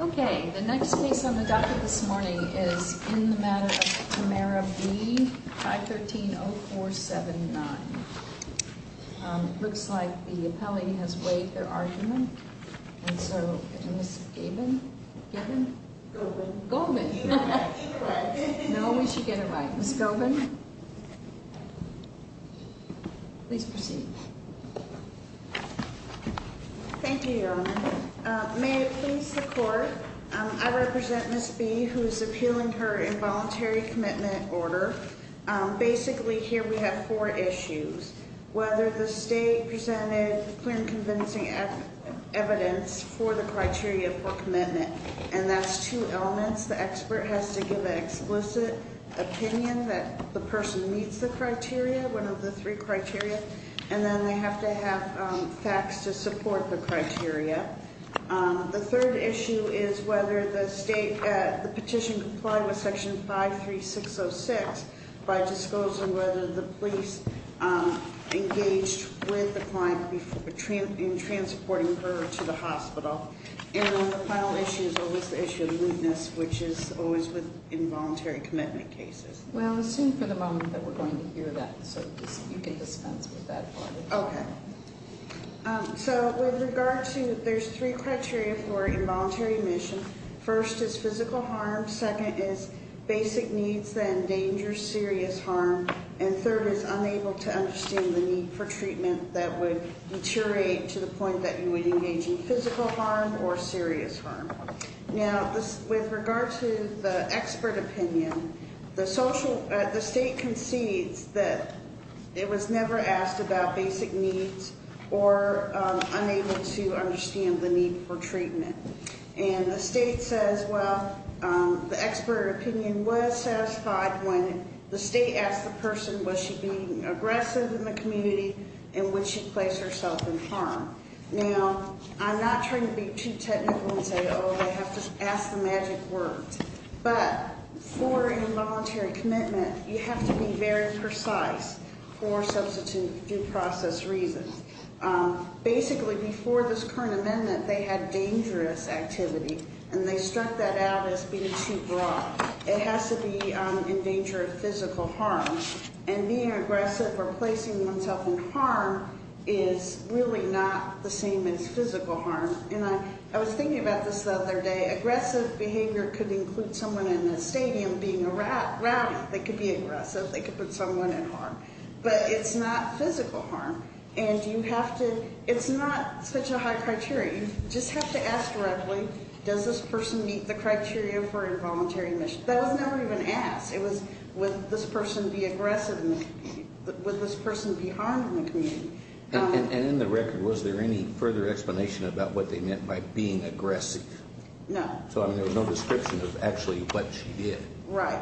Okay, the next case on the docket this morning is In the Matter of Tamara B, 513-0479. Looks like the appellee has weighed their argument, and so, Ms. Gaben, Gaben? Golden. Golden! No, we should get her right. Ms. Golden? Please proceed. Thank you, Your Honor. May it please the Court, I represent Ms. B, who is appealing her involuntary commitment order. Basically, here we have four issues. Whether the state presented clear and convincing evidence for the criteria for commitment. And that's two elements. The expert has to give an explicit opinion that the person meets the criteria, one of the three criteria. And then they have to have facts to support the criteria. The third issue is whether the petition complied with Section 53606 by disclosing whether the police engaged with the client in transporting her to the hospital. And the final issue is always the issue of lewdness, which is always with involuntary commitment cases. Well, assume for the moment that we're going to hear that, so you can dispense with that part. Okay. So, with regard to, there's three criteria for involuntary admission. First is physical harm. Second is basic needs that endanger serious harm. And third is unable to understand the need for treatment that would deteriorate to the point that you would engage in physical harm or serious harm. Now, with regard to the expert opinion, the state concedes that it was never asked about basic needs or unable to understand the need for treatment. And the state says, well, the expert opinion was satisfied when the state asked the person, was she being aggressive in the community and would she place herself in harm? Now, I'm not trying to be too technical and say, oh, they have to ask the magic word. But for involuntary commitment, you have to be very precise for substitute due process reasons. Basically, before this current amendment, they had dangerous activity, and they struck that out as being too broad. It has to be in danger of physical harm. And being aggressive or placing oneself in harm is really not the same as physical harm. And I was thinking about this the other day. Aggressive behavior could include someone in a stadium being a rowdy. They could be aggressive. They could put someone in harm. But it's not physical harm. And you have to – it's not such a high criteria. You just have to ask directly, does this person meet the criteria for involuntary admission? That was never even asked. It was, would this person be aggressive in the community? Would this person be harmed in the community? And in the record, was there any further explanation about what they meant by being aggressive? No. So, I mean, there was no description of actually what she did. Right.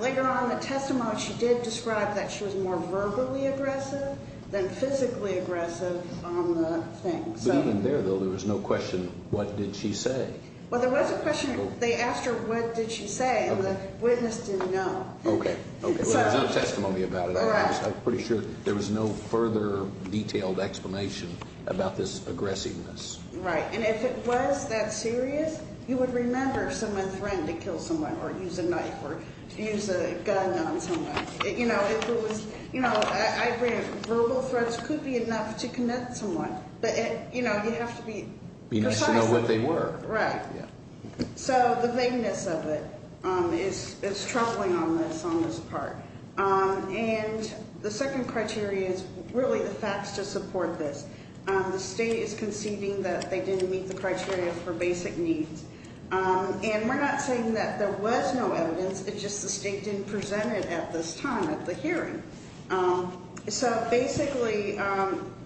Later on in the testimony, she did describe that she was more verbally aggressive than physically aggressive on the thing. But even there, though, there was no question, what did she say? Well, there was a question. They asked her, what did she say? And the witness didn't know. Okay. Okay. So there's no testimony about it. Correct. I'm pretty sure there was no further detailed explanation about this aggressiveness. Right. And if it was that serious, you would remember someone threatened to kill someone or use a knife or use a gun on someone. You know, if it was – you know, I agree, verbal threats could be enough to connect someone. But, you know, you have to be precise. You need to know what they were. Right. So the vagueness of it is troubling on this part. And the second criteria is really the facts to support this. The state is conceding that they didn't meet the criteria for basic needs. And we're not saying that there was no evidence, it's just the state didn't present it at this time at the hearing. So basically,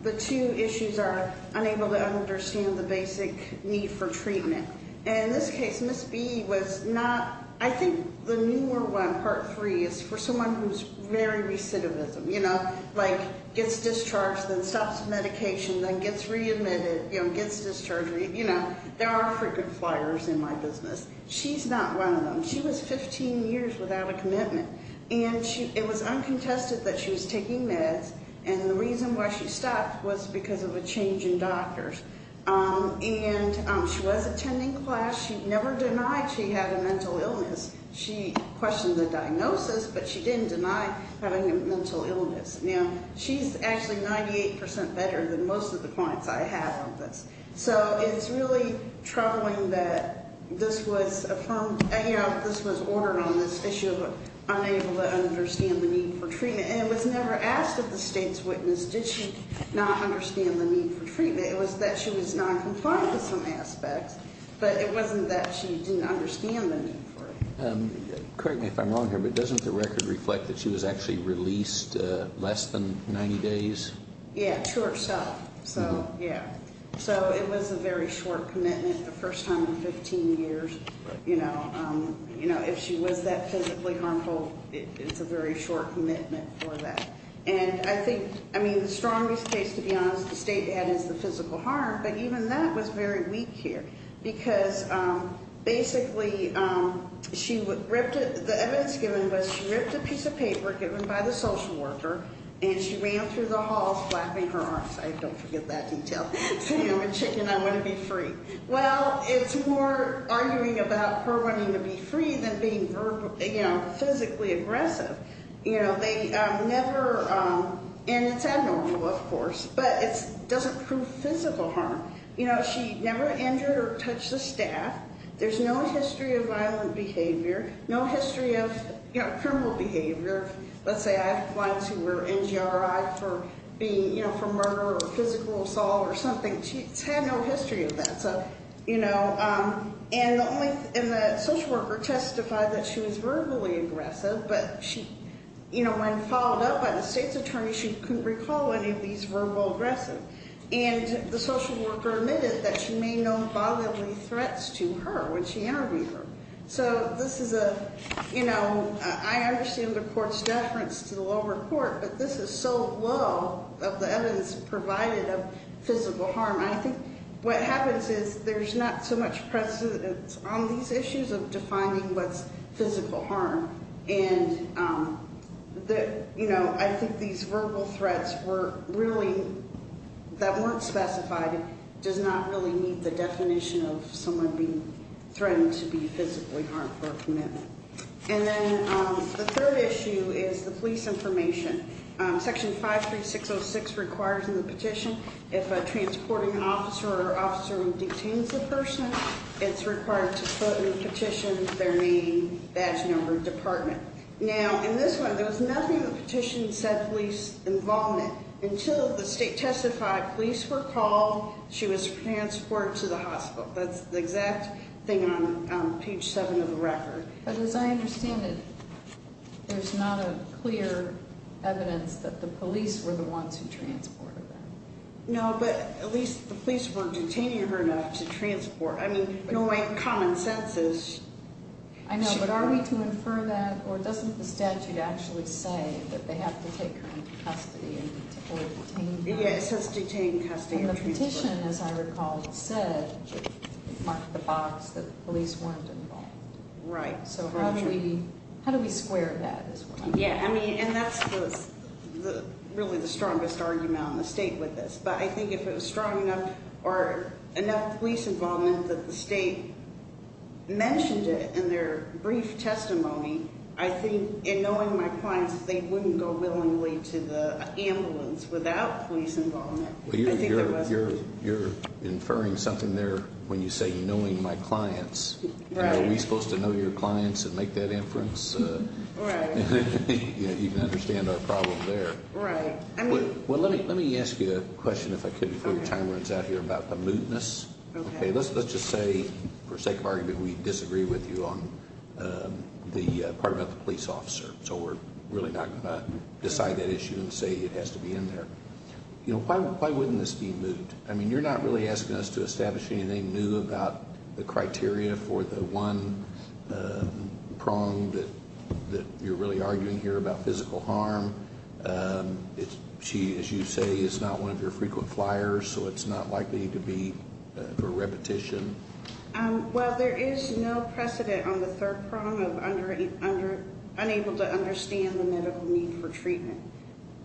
the two issues are unable to understand the basic need for treatment. And in this case, Ms. B was not – I think the newer one, part three, is for someone who's very recidivism, you know, like gets discharged, then stops medication, then gets readmitted, you know, gets discharged. You know, there are frequent flyers in my business. She's not one of them. She was 15 years without a commitment. And it was uncontested that she was taking meds. And the reason why she stopped was because of a change in doctors. And she was attending class. She never denied she had a mental illness. She questioned the diagnosis, but she didn't deny having a mental illness. Now, she's actually 98% better than most of the clients I have on this. So it's really troubling that this was affirmed – you know, this was ordered on this issue of unable to understand the need for treatment. And it was never asked of the state's witness, did she not understand the need for treatment. It was that she was noncompliant in some aspects, but it wasn't that she didn't understand the need for it. Correct me if I'm wrong here, but doesn't the record reflect that she was actually released less than 90 days? Yeah, to herself. So, yeah. So it was a very short commitment, the first time in 15 years. You know, if she was that physically harmful, it's a very short commitment for that. And I think – I mean, the strongest case, to be honest, the state had is the physical harm, but even that was very weak here. Because basically, she ripped – the evidence given was she ripped a piece of paper given by the social worker, and she ran through the halls flapping her arms. I don't forget that detail. Saying I'm a chicken, I want to be free. Well, it's more arguing about her wanting to be free than being physically aggressive. You know, they never – and it's abnormal, of course, but it doesn't prove physical harm. You know, she never injured or touched a staff. There's no history of violent behavior, no history of criminal behavior. Let's say I have clients who were NGRI for being – you know, for murder or physical assault or something. She's had no history of that. And the social worker testified that she was verbally aggressive, but she – you know, when followed up by the state's attorney, she couldn't recall any of these verbal aggressive. And the social worker admitted that she made no bodily threats to her when she interviewed her. So this is a – you know, I understand the court's deference to the lower court, but this is so low of the evidence provided of physical harm. I think what happens is there's not so much presence on these issues of defining what's physical harm. And, you know, I think these verbal threats were really – that weren't specified does not really meet the definition of someone being threatened to be physically harmed for a commitment. And then the third issue is the police information. Section 53606 requires in the petition if a transporting officer or officer who detains a person, it's required to put in the petition their name, badge number, department. Now, in this one, there was nothing in the petition that said police involvement until the state testified police were called, she was transported to the hospital. That's the exact thing on page 7 of the record. But as I understand it, there's not a clear evidence that the police were the ones who transported her. No, but at least the police weren't detaining her enough to transport. I mean, knowing common sense is – I know, but are we to infer that, or doesn't the statute actually say that they have to take her into custody or detain her? Yeah, it says detain, custody, or transport. And the petition, as I recall, said – marked the box that the police weren't involved. Right, so how do we square that? Yeah, I mean, and that's really the strongest argument on the state with this. But I think if it was strong enough or enough police involvement that the state mentioned it in their brief testimony, I think in knowing my clients, they wouldn't go willingly to the ambulance without police involvement. I think there was – You're inferring something there when you say knowing my clients. Right. Are we supposed to know your clients and make that inference? Right. You can understand our problem there. Right. Well, let me ask you a question, if I could, before your time runs out here, about the mootness. Okay. Let's just say, for sake of argument, we disagree with you on the part about the police officer. So we're really not going to decide that issue and say it has to be in there. You know, why wouldn't this be moot? I mean, you're not really asking us to establish anything new about the criteria for the one prong that you're really arguing here about physical harm. She, as you say, is not one of your frequent flyers, so it's not likely to be a repetition. Well, there is no precedent on the third prong of unable to understand the medical need for treatment.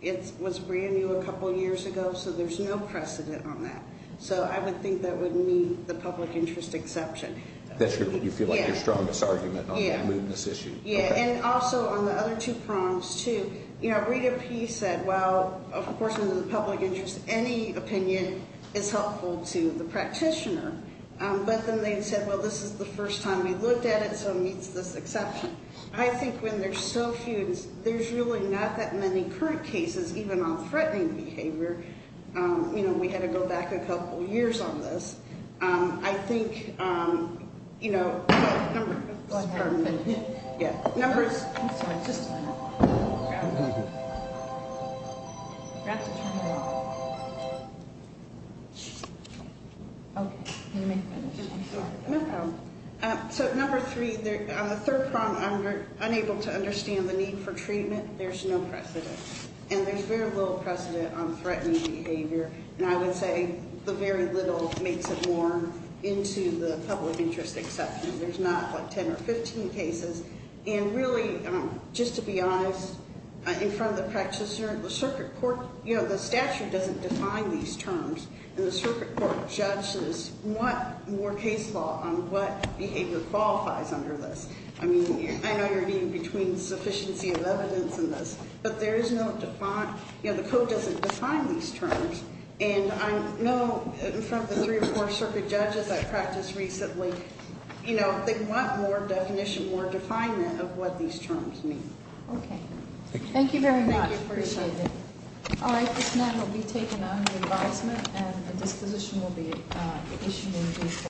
It was brand new a couple years ago, so there's no precedent on that. So I would think that would meet the public interest exception. You feel like your strongest argument on the mootness issue. Yeah, and also on the other two prongs, too. You know, Rita P. said, well, of course, in the public interest, any opinion is helpful to the practitioner. But then they said, well, this is the first time we've looked at it, so it meets this exception. I think when there's so few, there's really not that many current cases, even on threatening behavior. You know, we had to go back a couple years on this. I think, you know, number two. Sorry, just a minute. So number three, on the third prong, unable to understand the need for treatment, there's no precedent. And there's very little precedent on threatening behavior. And I would say the very little makes it more into the public interest exception. There's not like 10 or 15 cases. And really, just to be honest, in front of the practitioner, the circuit court, you know, the statute doesn't define these terms. And the circuit court judges want more case law on what behavior qualifies under this. I mean, I know you're eating between sufficiency of evidence and this. But there is no defined, you know, the code doesn't define these terms. And I know in front of the three or four circuit judges I practiced recently, you know, they want more definition, more definement of what these terms mean. Okay. Thank you very much. Thank you. Appreciate it. All right. This matter will be taken under advisement, and a disposition will be issued in due course.